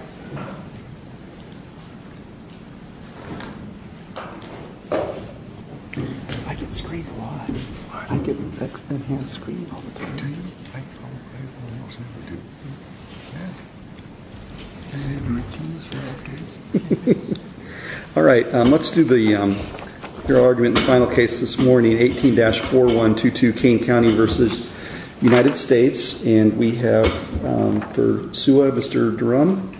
I get screened a lot. I get enhanced screening all the time. Alright, let's do your argument in the final case this morning, 18-4122 Kane County v. United States. And we have for SUA, Mr. Durham.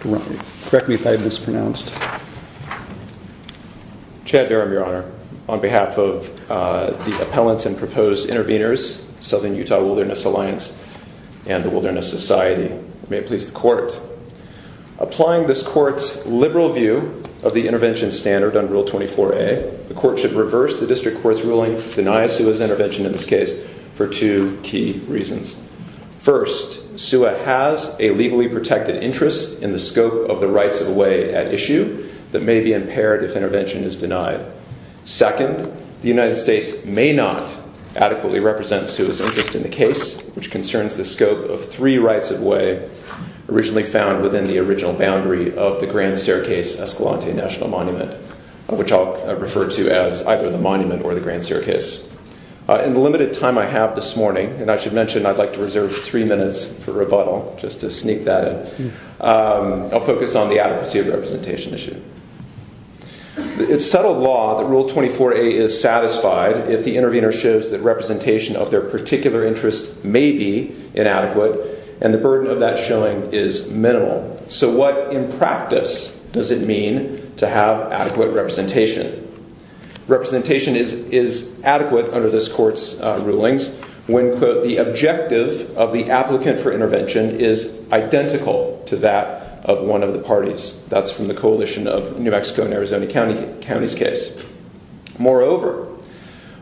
Correct me if I mispronounced. Chad Durham, your honor. On behalf of the appellants and proposed intervenors, Southern Utah Wilderness Alliance and the Wilderness Society. Applying this court's liberal view of the intervention standard under Rule 24a, the court should reverse the district court's ruling to deny SUA's intervention in this case for two key reasons. First, SUA has a legally protected interest in the scope of the rights of way at issue that may be impaired if intervention is denied. Second, the United States may not adequately represent SUA's interest in the case, which concerns the scope of three rights of way originally found within the original boundary of the Grand Staircase-Escalante National Monument, which I'll refer to as either the monument or the Grand Staircase. In the limited time I have this morning, and I should mention I'd like to reserve three minutes for rebuttal just to sneak that in, I'll focus on the adequacy of representation issue. It's settled law that Rule 24a is satisfied if the intervener shows that representation of their particular interest may be inadequate, and the burden of that showing is minimal. So what in practice does it mean to have adequate representation? Representation is adequate under this court's rulings when, quote, the objective of the applicant for intervention is identical to that of one of the parties. That's from the coalition of New Mexico and Arizona County's case. Moreover,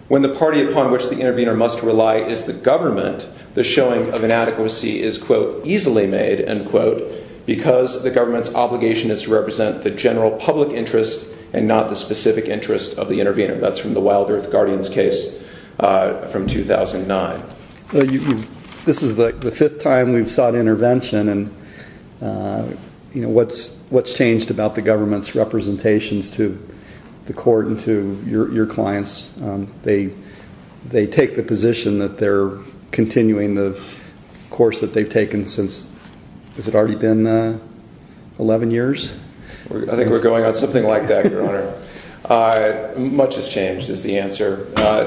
when the party upon which the intervener must rely is the government, the showing of inadequacy is, quote, easily made, end quote, because the government's obligation is to represent the general public interest and not the specific interest of the intervener. That's from the Wild Earth Guardians case from 2009. This is the fifth time we've sought intervention, and what's changed about the government's representations to the court and to your clients? They take the position that they're continuing the course that they've taken since, has it already been 11 years? I think we're going on something like that, Your Honor.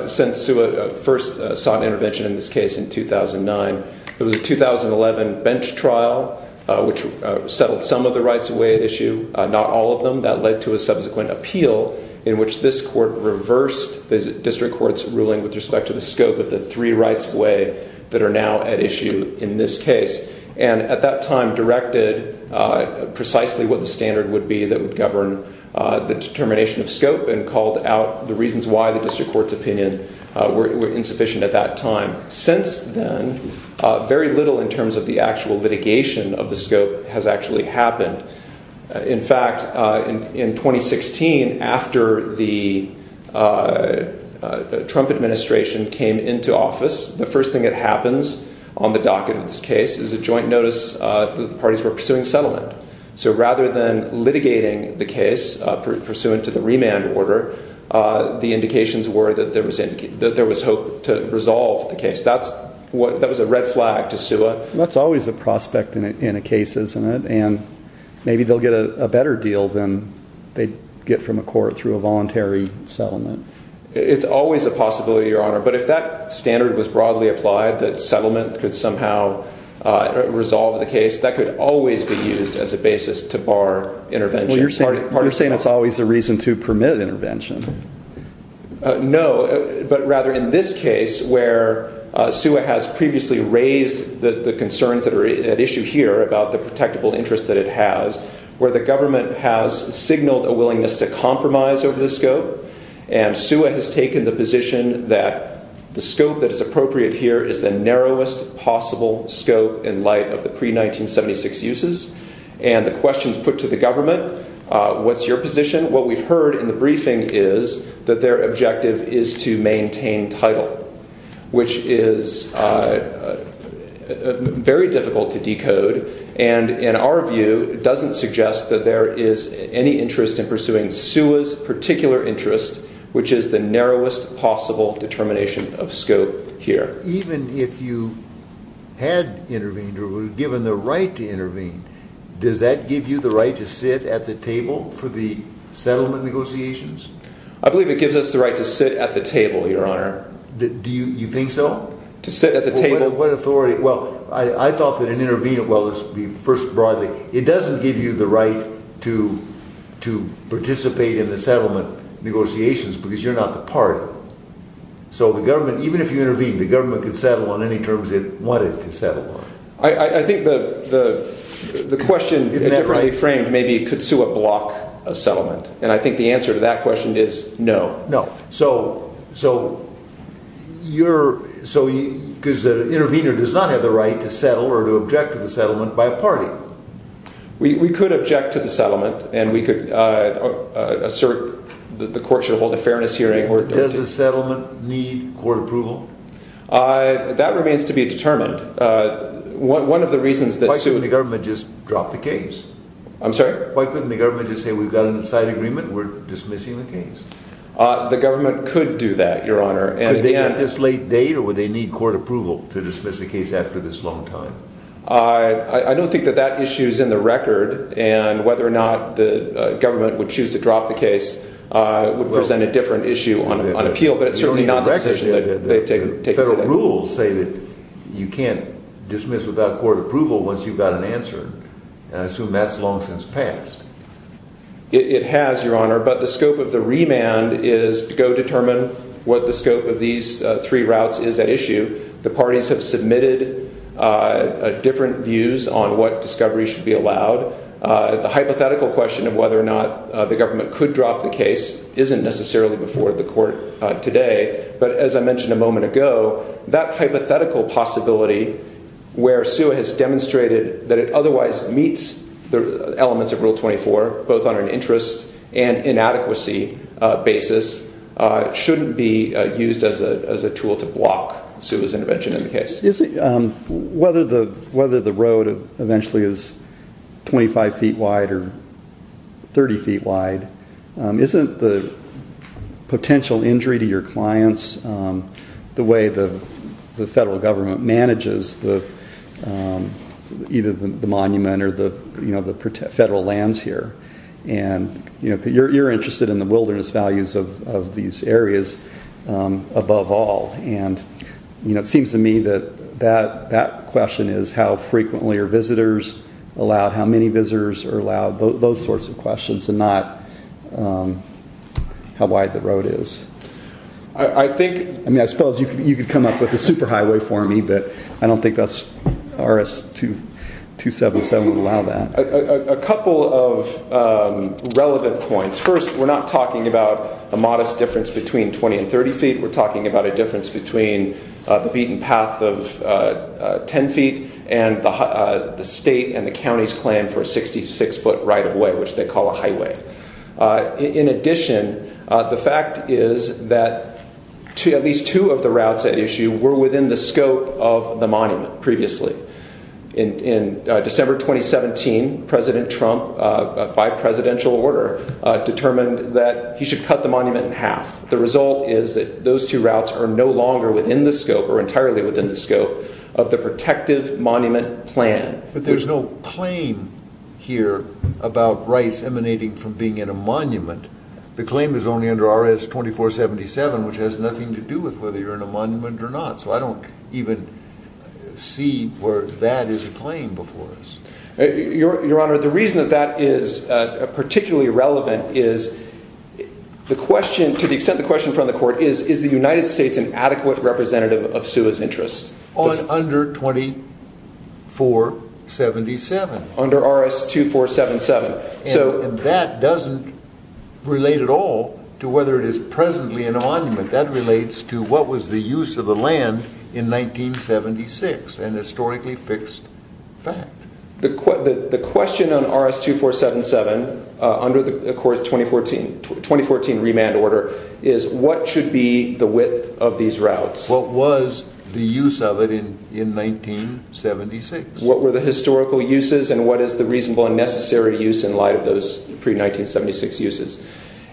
Since SUA first sought intervention in this case in 2009, there was a 2011 bench trial which settled some of the rights of way at issue, not all of them. That led to a subsequent appeal in which this court reversed the district court's ruling with respect to the scope of the three rights of way that are now at issue in this case. And at that time directed precisely what the standard would be that would govern the determination of scope and called out the reasons why the district court's opinion were insufficient at that time. Since then, very little in terms of the actual litigation of the scope has actually happened. In fact, in 2016, after the Trump administration came into office, the first thing that happens on the docket of this case is a joint notice that the parties were pursuing settlement. So rather than litigating the case pursuant to the remand order, the indications were that there was hope to resolve the case. That was a red flag to SUA. That's always a prospect in a case, isn't it? And maybe they'll get a better deal than they'd get from a court through a voluntary settlement. It's always a possibility, Your Honor. But if that standard was broadly applied, that settlement could somehow resolve the case, that could always be used as a basis to bar intervention. Well, you're saying it's always a reason to permit intervention. No, but rather in this case where SUA has previously raised the concerns that are at issue here about the protectable interest that it has, where the government has signaled a willingness to compromise over the scope. And SUA has taken the position that the scope that is appropriate here is the narrowest possible scope in light of the pre-1976 uses. And the questions put to the government, what's your position? What we've heard in the briefing is that their objective is to maintain title, which is very difficult to decode. And in our view, it doesn't suggest that there is any interest in pursuing SUA's particular interest, which is the narrowest possible determination of scope here. Even if you had intervened or were given the right to intervene, does that give you the right to sit at the table for the settlement negotiations? I believe it gives us the right to sit at the table, Your Honor. Do you think so? To sit at the table. What authority? Well, I thought that an intervener, well, first broadly, it doesn't give you the right to participate in the settlement negotiations because you're not the party. So the government, even if you intervene, the government can settle on any terms it wanted to settle on. I think the question is differently framed. Maybe it could sue a block of settlement. And I think the answer to that question is no. No. So you're, so because the intervener does not have the right to settle or to object to the settlement by a party. We could object to the settlement and we could assert that the court should hold a fairness hearing. Does the settlement need court approval? That remains to be determined. One of the reasons that sue... Why couldn't the government just drop the case? I'm sorry? Why couldn't the government just say we've got an inside agreement, we're dismissing the case? The government could do that, Your Honor. Could they at this late date or would they need court approval to dismiss the case after this long time? I don't think that that issue is in the record. And whether or not the government would choose to drop the case would present a different issue on appeal. But it's certainly not the position that they take today. Federal rules say that you can't dismiss without court approval once you've got an answer. And I assume that's long since passed. It has, Your Honor. But the scope of the remand is to go determine what the scope of these three routes is at issue. The parties have submitted different views on what discovery should be allowed. The hypothetical question of whether or not the government could drop the case isn't necessarily before the court today. But as I mentioned a moment ago, that hypothetical possibility where SUA has demonstrated that it otherwise meets the elements of Rule 24, both on an interest and inadequacy basis, shouldn't be used as a tool to block SUA's intervention in the case. Whether the road eventually is 25 feet wide or 30 feet wide, isn't the potential injury to your clients the way the federal government manages either the monument or the federal lands here? You're interested in the wilderness values of these areas above all. And it seems to me that that question is how frequently are visitors allowed, how many visitors are allowed, those sorts of questions and not how wide the road is. I suppose you could come up with a superhighway for me, but I don't think RS-277 would allow that. A couple of relevant points. First, we're not talking about a modest difference between 20 and 30 feet. We're talking about a difference between the beaten path of 10 feet and the state and the county's plan for a 66 foot right of way, which they call a highway. In addition, the fact is that at least two of the routes at issue were within the scope of the monument previously. In December 2017, President Trump, by presidential order, determined that he should cut the monument in half. The result is that those two routes are no longer within the scope or entirely within the scope of the protective monument plan. But there's no claim here about rights emanating from being in a monument. The claim is only under RS-2477, which has nothing to do with whether you're in a monument or not. So I don't even see where that is a claim before us. Your Honor, the reason that that is particularly relevant is the question, to the extent the question from the court is, is the United States an adequate representative of SUA's interests? Under 2477. Under RS-2477. And that doesn't relate at all to whether it is presently in a monument. That relates to what was the use of the land in 1976, an historically fixed fact. The question on RS-2477, under the 2014 remand order, is what should be the width of these routes? What was the use of it in 1976? What were the historical uses and what is the reasonable and necessary use in light of those pre-1976 uses?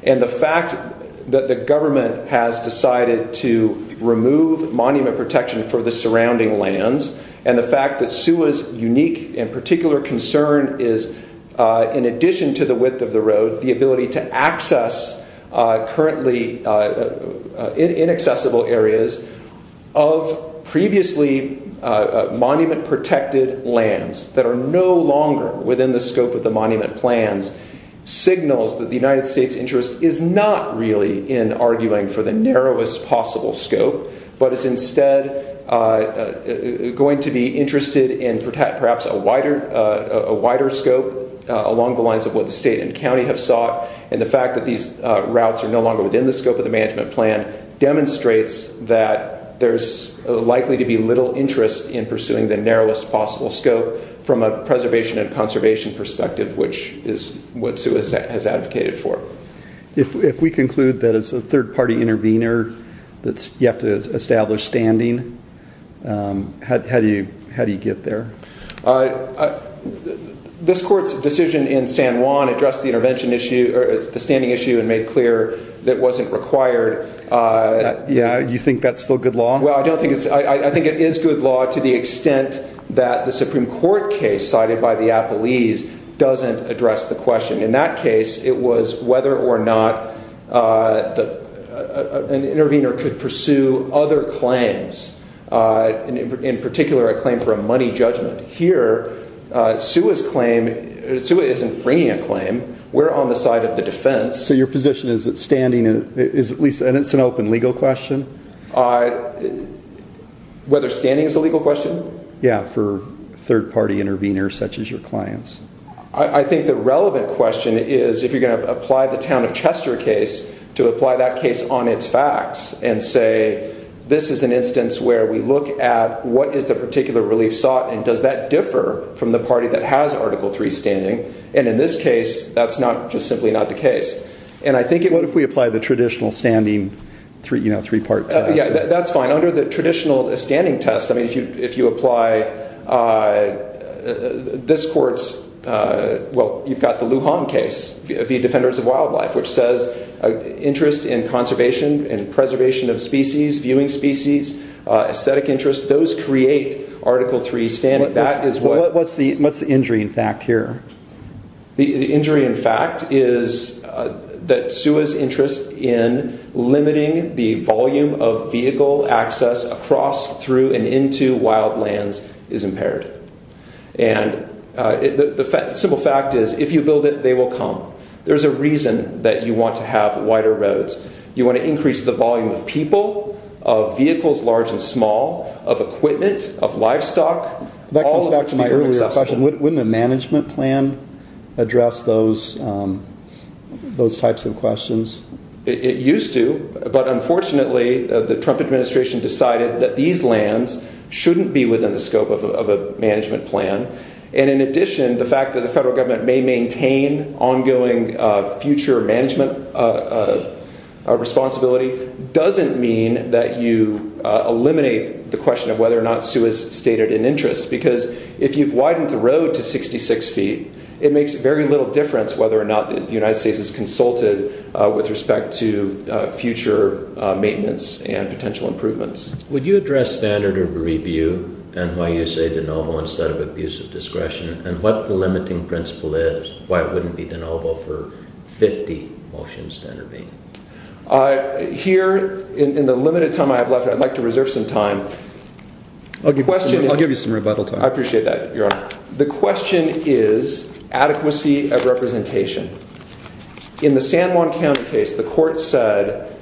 And the fact that the government has decided to remove monument protection for the surrounding lands and the fact that SUA's unique and particular concern is, in addition to the width of the road, the ability to access currently inaccessible areas of previously monument protected lands that are no longer within the scope of the monument plans, signals that the United States' interest is not really in arguing for the narrowest possible scope, but is instead going to be interested in perhaps a wider scope along the lines of what the state and county have sought. And the fact that these routes are no longer within the scope of the management plan demonstrates that there's likely to be little interest in pursuing the narrowest possible scope from a preservation and conservation perspective, which is what SUA has advocated for. If we conclude that it's a third-party intervener that's yet to establish standing, how do you get there? This court's decision in San Juan addressed the intervention issue, or the standing issue, and made clear that it wasn't required. Yeah, you think that's still good law? Well, I think it is good law to the extent that the Supreme Court case cited by the Appellees doesn't address the question. In that case, it was whether or not an intervener could pursue other claims, in particular a claim for a money judgment. Here, SUA isn't bringing a claim. We're on the side of the defense. So your position is that standing is at least an open legal question? Whether standing is a legal question? Yeah, for third-party interveners such as your clients. I think the relevant question is if you're going to apply the town of Chester case to apply that case on its facts, and say this is an instance where we look at what is the particular relief sought, and does that differ from the party that has Article III standing? And in this case, that's just simply not the case. What if we apply the traditional standing three-part test? That's fine. Under the traditional standing test, if you apply this court's, well, you've got the Lujan case, the Defenders of Wildlife, which says interest in conservation and preservation of species, viewing species, aesthetic interests, those create Article III standing. What's the injury in fact here? The injury in fact is that SUA's interest in limiting the volume of vehicle access across, through, and into wild lands is impaired. And the simple fact is if you build it, they will come. There's a reason that you want to have wider roads. You want to increase the volume of people, of vehicles large and small, of equipment, of livestock. That comes back to my earlier question. Wouldn't the management plan address those types of questions? It used to, but unfortunately the Trump administration decided that these lands shouldn't be within the scope of a management plan. And in addition, the fact that the federal government may maintain ongoing future management responsibility doesn't mean that you eliminate the question of whether or not SUA's stated an interest. Because if you've widened the road to 66 feet, it makes very little difference whether or not the United States is consulted with respect to future maintenance and potential improvements. Would you address standard of review and why you say de novo instead of abuse of discretion? And what the limiting principle is? Why wouldn't it be de novo for 50 motions to intervene? Here, in the limited time I have left, I'd like to reserve some time. I'll give you some rebuttal time. I appreciate that, Your Honor. The question is adequacy of representation. In the San Juan County case, the court said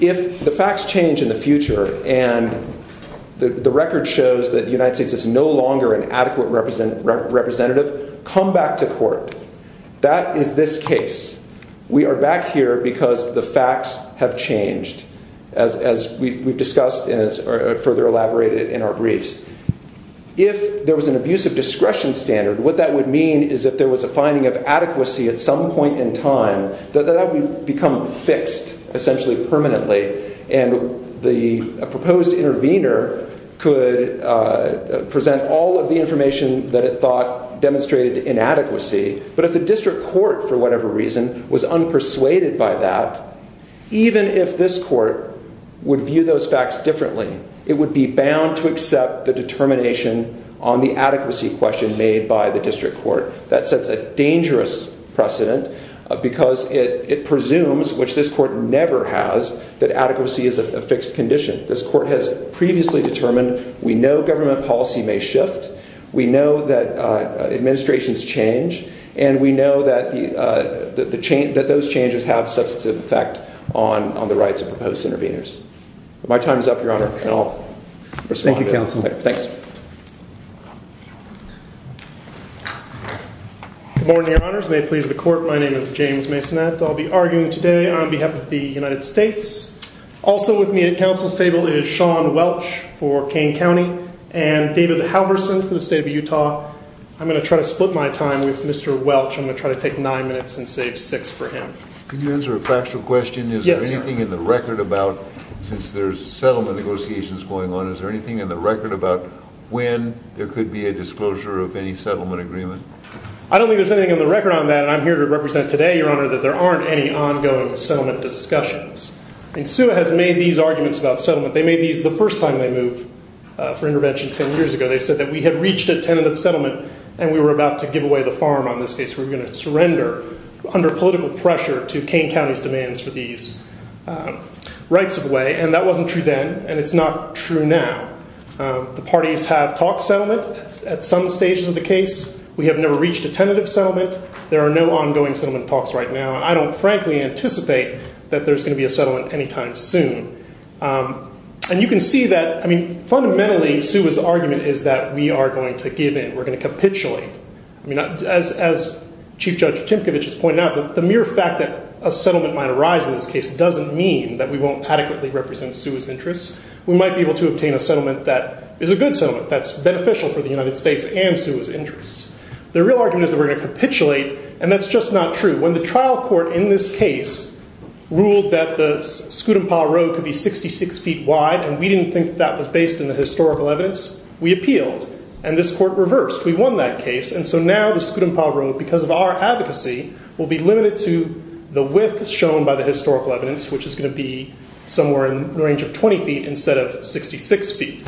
if the facts change in the future and the record shows that the United States is no longer an adequate representative, come back to court. That is this case. We are back here because the facts have changed, as we've discussed and further elaborated in our briefs. If there was an abuse of discretion standard, what that would mean is if there was a finding of adequacy at some point in time, that would become fixed, essentially permanently. And the proposed intervener could present all of the information that it thought demonstrated inadequacy. But if the district court, for whatever reason, was unpersuaded by that, even if this court would view those facts differently, it would be bound to accept the determination on the adequacy question made by the district court. That sets a dangerous precedent because it presumes, which this court never has, that adequacy is a fixed condition. This court has previously determined we know government policy may shift. We know that administrations change. And we know that those changes have substantive effect on the rights of proposed interveners. My time is up, Your Honor, and I'll respond. Thank you, Counsel. Thanks. Good morning, Your Honors. May it please the court, my name is James Masonette. I'll be arguing today on behalf of the United States. Also with me at counsel's table is Sean Welch for Kane County and David Halverson for the state of Utah. I'm going to try to split my time with Mr. Welch. I'm going to try to take nine minutes and save six for him. Can you answer a factual question? Yes, sir. Is there anything in the record about, since there's settlement negotiations going on, is there anything in the record about when there could be a disclosure of any settlement agreement? I don't think there's anything in the record on that, and I'm here to represent today, Your Honor, that there aren't any ongoing settlement discussions. And SUA has made these arguments about settlement. They made these the first time they moved for intervention ten years ago. They said that we had reached a tentative settlement, and we were about to give away the farm on this case. We were going to surrender under political pressure to Kane County's demands for these rights of way, and that wasn't true then, and it's not true now. The parties have talked settlement at some stages of the case. We have never reached a tentative settlement. There are no ongoing settlement talks right now, and I don't frankly anticipate that there's going to be a settlement anytime soon. And you can see that, I mean, fundamentally SUA's argument is that we are going to give in. We're going to capitulate. I mean, as Chief Judge Timkovich has pointed out, the mere fact that a settlement might arise in this case doesn't mean that we won't adequately represent SUA's interests. We might be able to obtain a settlement that is a good settlement, that's beneficial for the United States and SUA's interests. The real argument is that we're going to capitulate, and that's just not true. When the trial court in this case ruled that the Scutumpah Road could be 66 feet wide, and we didn't think that that was based on the historical evidence, we appealed, and this court reversed. We won that case, and so now the Scutumpah Road, because of our advocacy, will be limited to the width shown by the historical evidence, which is going to be somewhere in the range of 20 feet instead of 66 feet.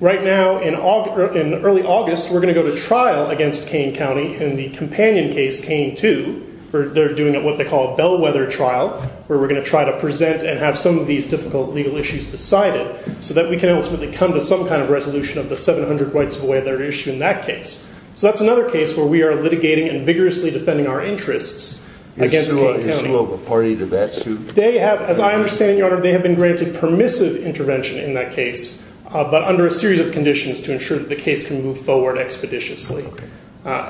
Right now, in early August, we're going to go to trial against Kane County in the companion case, Kane 2, where they're doing what they call a bellwether trial, where we're going to try to present and have some of these difficult legal issues decided so that we can ultimately come to some kind of resolution of the 700 rights of way that are issued in that case. So that's another case where we are litigating and vigorously defending our interests against Kane County. Is SUA a party to that suit? They have, as I understand it, Your Honor, they have been granted permissive intervention in that case, but under a series of conditions to ensure that the case can move forward expeditiously.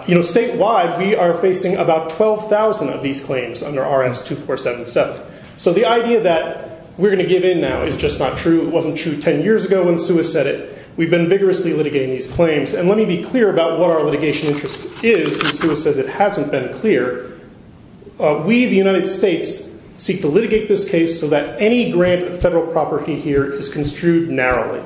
You know, statewide, we are facing about 12,000 of these claims under RS-2477. So the idea that we're going to give in now is just not true. It wasn't true 10 years ago when SUA said it. We've been vigorously litigating these claims, and let me be clear about what our litigation interest is, since SUA says it hasn't been clear. We, the United States, seek to litigate this case so that any grant of federal property here is construed narrowly.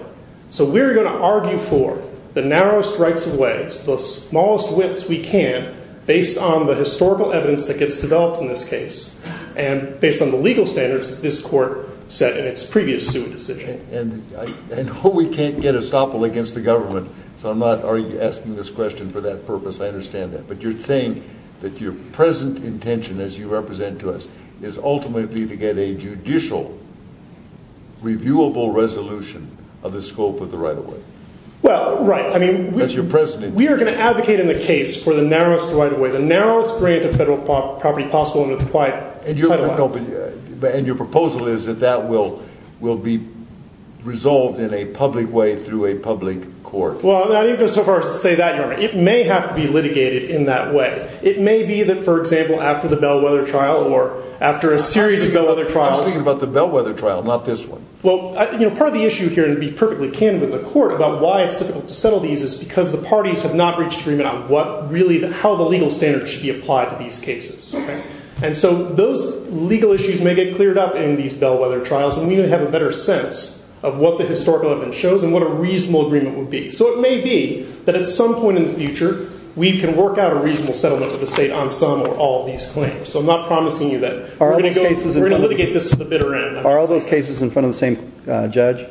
So we're going to argue for the narrowest rights of way, the smallest widths we can, based on the historical evidence that gets developed in this case and based on the legal standards that this court set in its previous SUA decision. And we can't get estoppel against the government, so I'm not asking this question for that purpose. I understand that. But you're saying that your present intention, as you represent to us, is ultimately to get a judicial, reviewable resolution of the scope of the right of way? Well, right. As your president. We are going to advocate in the case for the narrowest right of way, the narrowest grant of federal property possible under the Title 5. And your proposal is that that will be resolved in a public way through a public court? Well, I didn't go so far as to say that, Your Honor. It may have to be litigated in that way. It may be that, for example, after the Bellwether trial or after a series of Bellwether trials. I'm asking about the Bellwether trial, not this one. Well, part of the issue here, and to be perfectly candid with the court, about why it's difficult to settle these is because the parties have not reached agreement on how the legal standards should be applied to these cases. And so those legal issues may get cleared up in these Bellwether trials and we may have a better sense of what the historical evidence shows and what a reasonable agreement would be. So it may be that at some point in the future, we can work out a reasonable settlement with the state on some or all of these claims. So I'm not promising you that we're going to litigate this to the bitter end. Are all those cases in front of the same judge?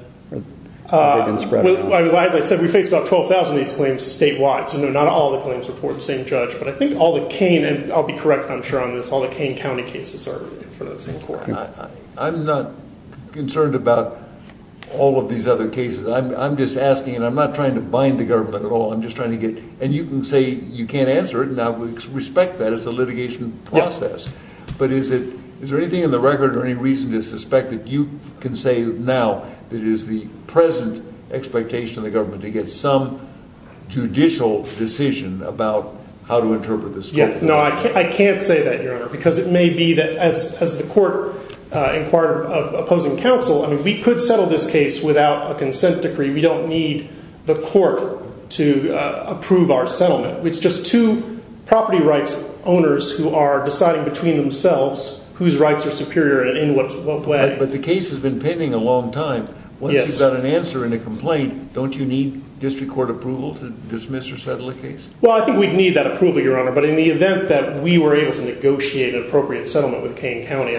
As I said, we face about 12,000 of these claims statewide, so not all the claims report the same judge. But I think all the Kane, and I'll be correct I'm sure on this, all the Kane County cases are in front of the same court. I'm not concerned about all of these other cases. I'm just asking, and I'm not trying to bind the government at all. I'm just trying to get, and you can say you can't answer it, and I would respect that as a litigation process. But is there anything in the record or any reason to suspect that you can say now that it is the present expectation of the government to get some judicial decision about how to interpret this case? No, I can't say that, Your Honor, because it may be that as the court inquired of opposing counsel, I mean, we could settle this case without a consent decree. We don't need the court to approve our settlement. It's just two property rights owners who are deciding between themselves whose rights are superior and in what way. But the case has been pending a long time. Once you've got an answer and a complaint, don't you need district court approval to dismiss or settle the case? Well, I think we'd need that approval, Your Honor, but in the event that we were able to negotiate an appropriate settlement with Kane County,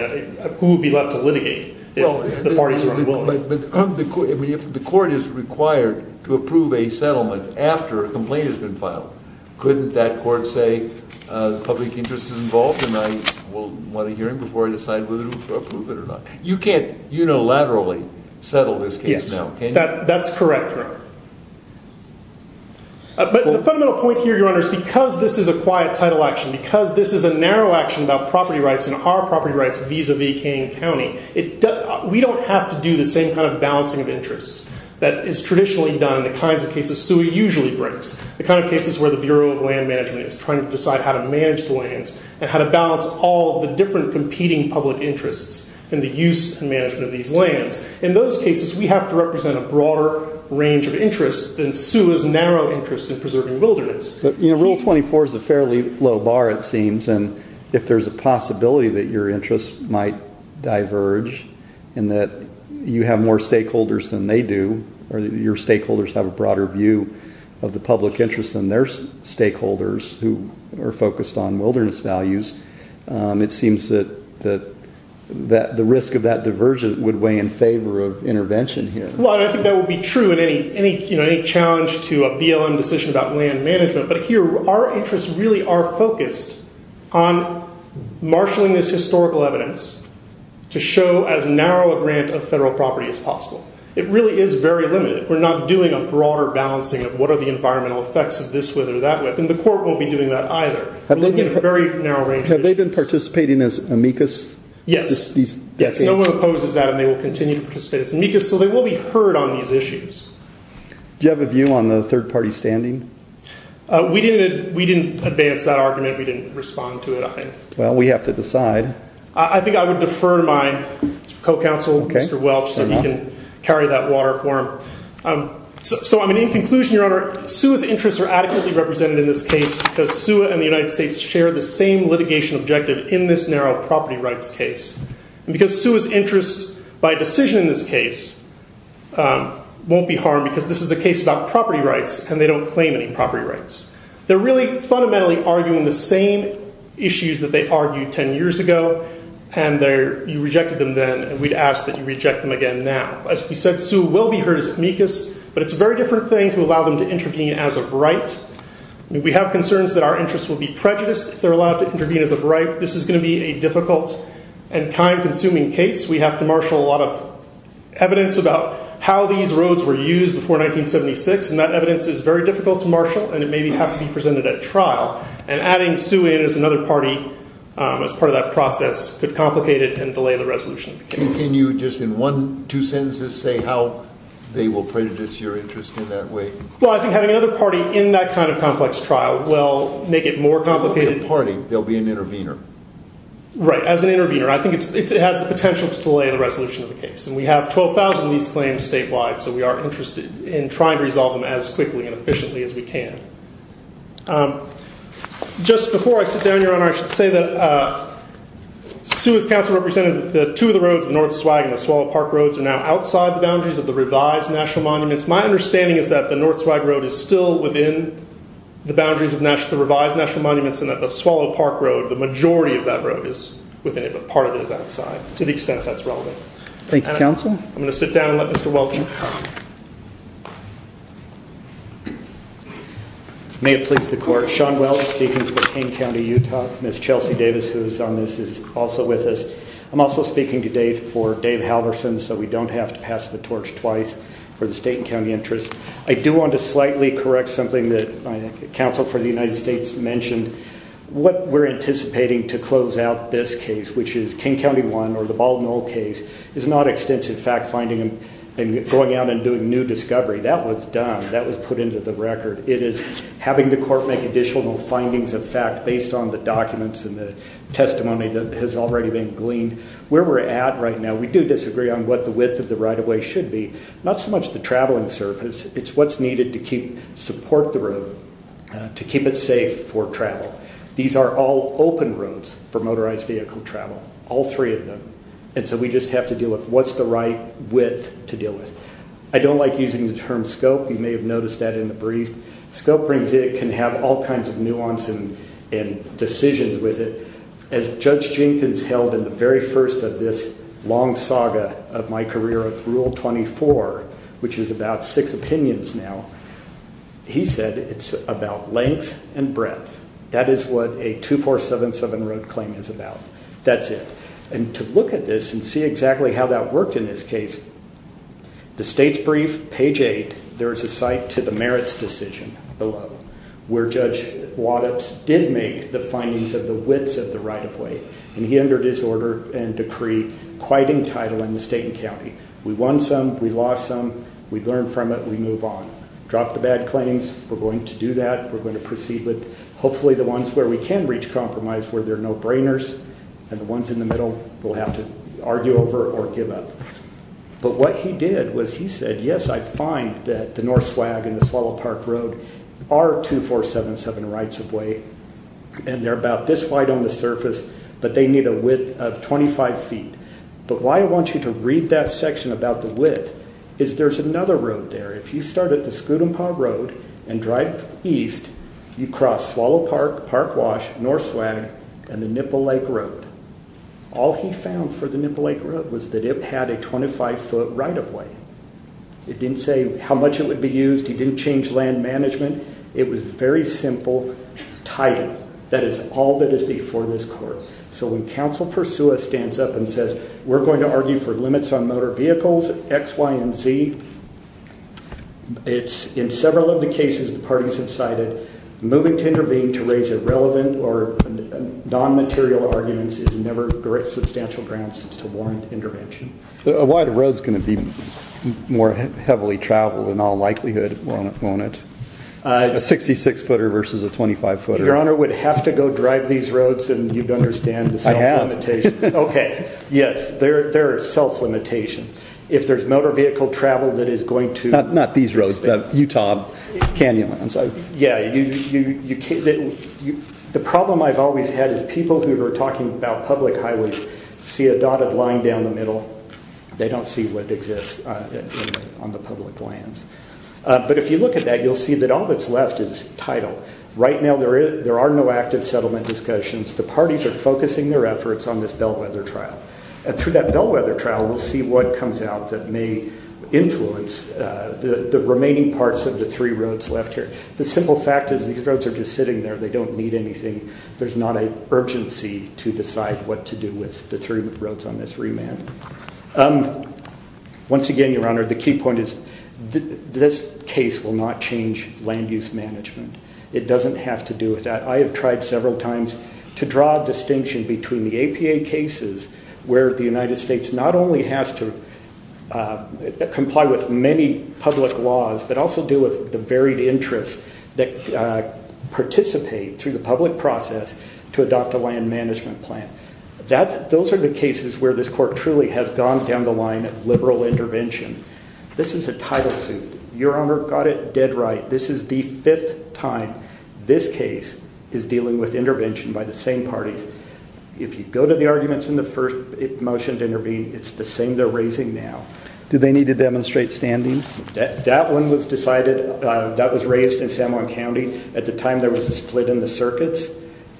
who would be left to litigate if the parties were unwilling? But if the court is required to approve a settlement after a complaint has been filed, couldn't that court say the public interest is involved and I will want a hearing before I decide whether to approve it or not? You can't unilaterally settle this case now, can you? Yes, that's correct, Your Honor. But the fundamental point here, Your Honor, is because this is a quiet title action, because this is a narrow action about property rights and our property rights vis-a-vis Kane County, we don't have to do the same kind of balancing of interests that is traditionally done in the kinds of cases SUA usually brings, the kind of cases where the Bureau of Land Management is trying to decide how to manage the lands and how to balance all the different competing public interests in the use and management of these lands. In those cases, we have to represent a broader range of interests than SUA's narrow interest in preserving wilderness. Rule 24 is a fairly low bar, it seems, and if there's a possibility that your interests might diverge and that you have more stakeholders than they do, or your stakeholders have a broader view of the public interest than their stakeholders who are focused on wilderness values, it seems that the risk of that diversion would weigh in favor of intervention here. I think that would be true in any challenge to a BLM decision about land management, but here our interests really are focused on marshalling this historical evidence to show as narrow a grant of federal property as possible. It really is very limited. We're not doing a broader balancing of what are the environmental effects of this with or that with, and the court won't be doing that either. We're looking at a very narrow range of interests. Have they been participating as amicus? Yes. No one opposes that and they will continue to participate as amicus, so they will be heard on these issues. Do you have a view on the third-party standing? We didn't advance that argument. We didn't respond to it, I think. Well, we have to decide. I think I would defer to my co-counsel, Mr. Welch, so he can carry that water for him. So in conclusion, Your Honor, SUA's interests are adequately represented in this case because SUA and the United States share the same litigation objective in this narrow property rights case, and because SUA's interests by decision in this case won't be harmed because this is a case about property rights and they don't claim any property rights. They're really fundamentally arguing the same issues that they argued ten years ago, and you rejected them then, and we'd ask that you reject them again now. As we said, SUA will be heard as amicus, but it's a very different thing to allow them to intervene as of right. We have concerns that our interests will be prejudiced if they're allowed to intervene as of right. This is going to be a difficult and time-consuming case. We have to marshal a lot of evidence about how these roads were used before 1976, and that evidence is very difficult to marshal, and it may have to be presented at trial, and adding SUA in as another party as part of that process could complicate it and delay the resolution of the case. Can you just in one, two sentences, say how they will prejudice your interest in that way? Well, I think having another party in that kind of complex trial will make it more complicated. They'll be an intervener. Right, as an intervener. I think it has the potential to delay the resolution of the case, and we have 12,000 of these claims statewide, so we are interested in trying to resolve them as quickly and efficiently as we can. Just before I sit down, Your Honor, I should say that SUA's counsel represented that two of the roads, the North Swag and the Swallow Park Roads, are now outside the boundaries of the revised national monuments. My understanding is that the North Swag Road is still within the boundaries of the revised national monuments and that the Swallow Park Road, the majority of that road, is within it, but part of it is outside, to the extent that's relevant. Thank you, counsel. I'm going to sit down and let Mr. Welch talk. May it please the Court. Sean Welch speaking for King County, Utah. Ms. Chelsea Davis, who is on this, is also with us. I'm also speaking today for Dave Halverson so we don't have to pass the torch twice for the state and county interests. I do want to slightly correct something that counsel for the United States mentioned. What we're anticipating to close out this case, which is King County 1 or the Bald Knoll case, is not extensive fact-finding and going out and doing new discovery. That was done. That was put into the record. It is having the court make additional findings of fact based on the documents and the testimony that has already been gleaned. Where we're at right now, we do disagree on what the width of the right-of-way should be, not so much the traveling surface. It's what's needed to support the road, to keep it safe for travel. These are all open roads for motorized vehicle travel, all three of them, and so we just have to deal with what's the right width to deal with. I don't like using the term scope. You may have noticed that in the brief. Scope can have all kinds of nuance and decisions with it. As Judge Jenkins held in the very first of this long saga of my career of Rule 24, which is about six opinions now, he said it's about length and breadth. That is what a 2477 road claim is about. That's it. And to look at this and see exactly how that worked in this case, the state's brief, page 8, there is a cite to the merits decision below where Judge Waddups did make the findings of the widths of the right-of-way, and he entered his order and decree quite in title in the state and county. We won some, we lost some. We learn from it. We move on. Drop the bad claims. We're going to do that. We're going to proceed with hopefully the ones where we can reach compromise, where there are no brainers, and the ones in the middle will have to argue over or give up. But what he did was he said, yes, I find that the North Swag and the Swallow Park Road are 2477 rights-of-way, and they're about this wide on the surface, but they need a width of 25 feet. But why I want you to read that section about the width is there's another road there. If you start at the Scoot-N-Paw Road and drive east, you cross Swallow Park, Park Wash, North Swag, and the Nipple Lake Road. All he found for the Nipple Lake Road was that it had a 25-foot right-of-way. It didn't say how much it would be used. He didn't change land management. It was very simple title. That is all that is before this court. So when Counsel Persua stands up and says, we're going to argue for limits on motor vehicles, X, Y, and Z, it's in several of the cases the parties have cited, moving to intervene to raise irrelevant or non-material arguments is never a great substantial grounds to warrant intervention. A wide road's going to be more heavily traveled in all likelihood, won't it? A 66-footer versus a 25-footer. Your Honor would have to go drive these roads and you'd understand the self-limitations. I have. Okay, yes, there are self-limitations. If there's motor vehicle travel that is going to... Not these roads, but Utah, Canyonlands. Yeah, the problem I've always had is people who are talking about public highways see a dotted line down the middle. They don't see what exists on the public lands. But if you look at that, you'll see that all that's left is title. Right now, there are no active settlement discussions. The parties are focusing their efforts on this bellwether trial. And through that bellwether trial, we'll see what comes out that may influence the remaining parts of the three roads left here. The simple fact is these roads are just sitting there. They don't need anything. There's not an urgency to decide what to do with the three roads on this remand. Once again, Your Honor, the key point is this case will not change land use management. It doesn't have to do with that. I have tried several times to draw a distinction between the APA cases where the United States not only has to comply with many public laws, but also do with the varied interests that participate through the public process to adopt a land management plan. Those are the cases where this court truly has gone down the line of liberal intervention. This is a title suit. Your Honor got it dead right. This is the fifth time this case is dealing with intervention by the same parties. If you go to the arguments in the first motion to intervene, it's the same they're raising now. Do they need to demonstrate standing? That one was decided. That was raised in San Juan County. At the time, there was a split in the circuits,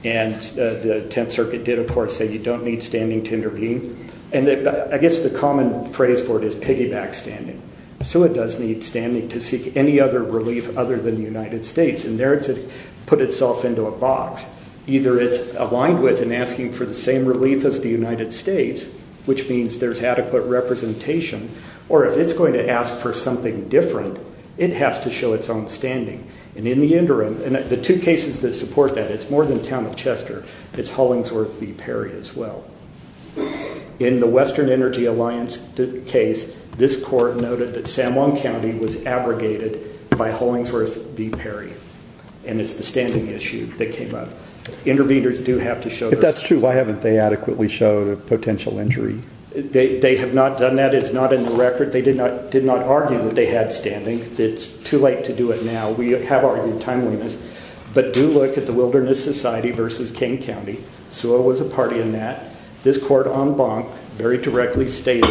and the Tenth Circuit did, of course, say you don't need standing to intervene. I guess the common phrase for it is piggyback standing. It does need standing to seek any other relief other than the United States, and there it's put itself into a box. Either it's aligned with and asking for the same relief as the United States, which means there's adequate representation, or if it's going to ask for something different, it has to show its own standing, and in the interim, and the two cases that support that, it's more than Town of Chester. It's Hollingsworth v. Perry as well. In the Western Energy Alliance case, this court noted that San Juan County was abrogated by Hollingsworth v. Perry, and it's the standing issue that came up. Interveners do have to show their standing. If that's true, why haven't they adequately showed a potential injury? They have not done that. It's not in the record. They did not argue that they had standing. It's too late to do it now. We have argued timeliness, but do look at the Wilderness Society v. Kane County. SEWA was a party in that. This court en banc very directly stated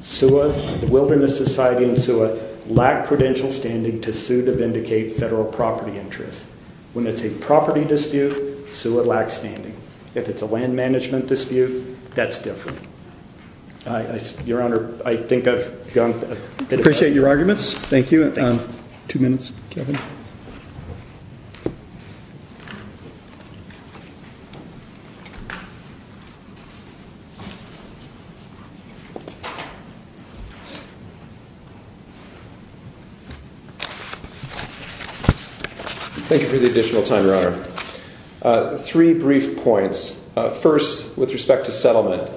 the Wilderness Society and SEWA lack credential standing to sue to vindicate federal property interests. When it's a property dispute, SEWA lacks standing. If it's a land management dispute, that's different. Your Honor, I think I've gone a bit far. Appreciate your arguments. Thank you. Two minutes, Kevin. Thank you for the additional time, Your Honor. Three brief points. First, with respect to settlement.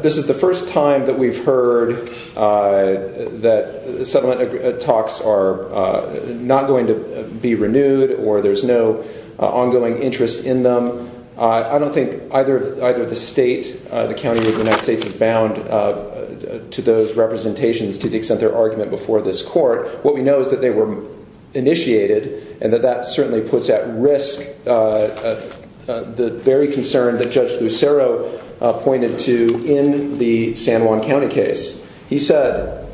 This is the first time that we've heard that settlement talks are not going to be renewed or there's no ongoing interest in them. I don't think either the state, the county of the United States, is bound to those representations to the extent their argument before this court. What we know is that they were initiated and that that certainly puts at risk the very concern that Judge Lucero pointed to in the San Juan County case. He said,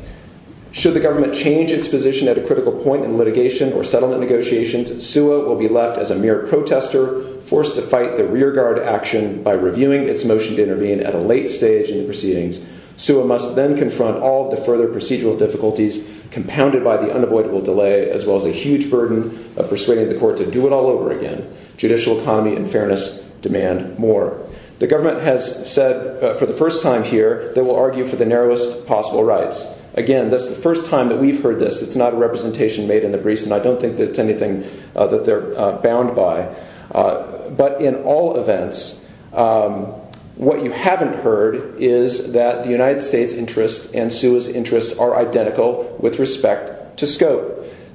Should the government change its position at a critical point in litigation or settlement negotiations, SEWA will be left as a mere protester forced to fight the rearguard action by reviewing its motion to intervene at a late stage in the proceedings. SEWA must then confront all of the further procedural difficulties compounded by the unavoidable delay as well as a huge burden of persuading the court to do it all over again. Judicial economy and fairness demand more. The government has said for the first time here they will argue for the narrowest possible rights. Again, that's the first time that we've heard this. It's not a representation made in the briefs and I don't think that it's anything that they're bound by. But in all events, what you haven't heard is that the United States' interest and SEWA's interest are identical with respect to scope.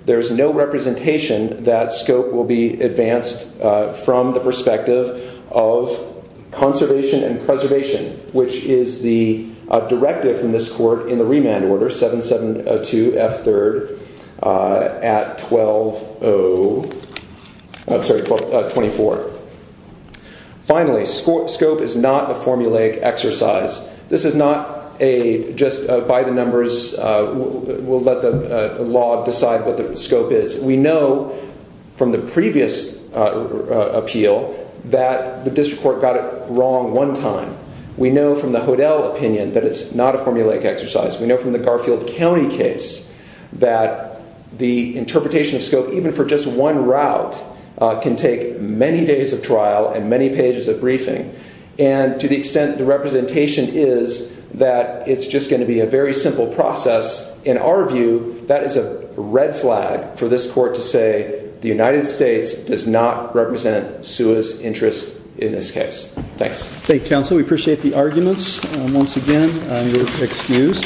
There's no representation that scope will be advanced from the perspective of conservation and preservation, which is the directive from this court in the remand order, 772 F3rd at 12-0, I'm sorry, 24. Finally, scope is not a formulaic exercise. This is not a just by the numbers, we'll let the law decide what the scope is. We know from the previous appeal that the district court got it wrong one time. We know from the Hodel opinion that it's not a formulaic exercise. We know from the Garfield County case that the interpretation of scope, even for just one route, can take many days of trial and many pages of briefing. And to the extent the representation is that it's just going to be a very simple process, in our view, that is a red flag for this court to say the United States does not represent SEWA's interest in this case. Thanks. Thank you, counsel. We appreciate the arguments. Once again, you're excused.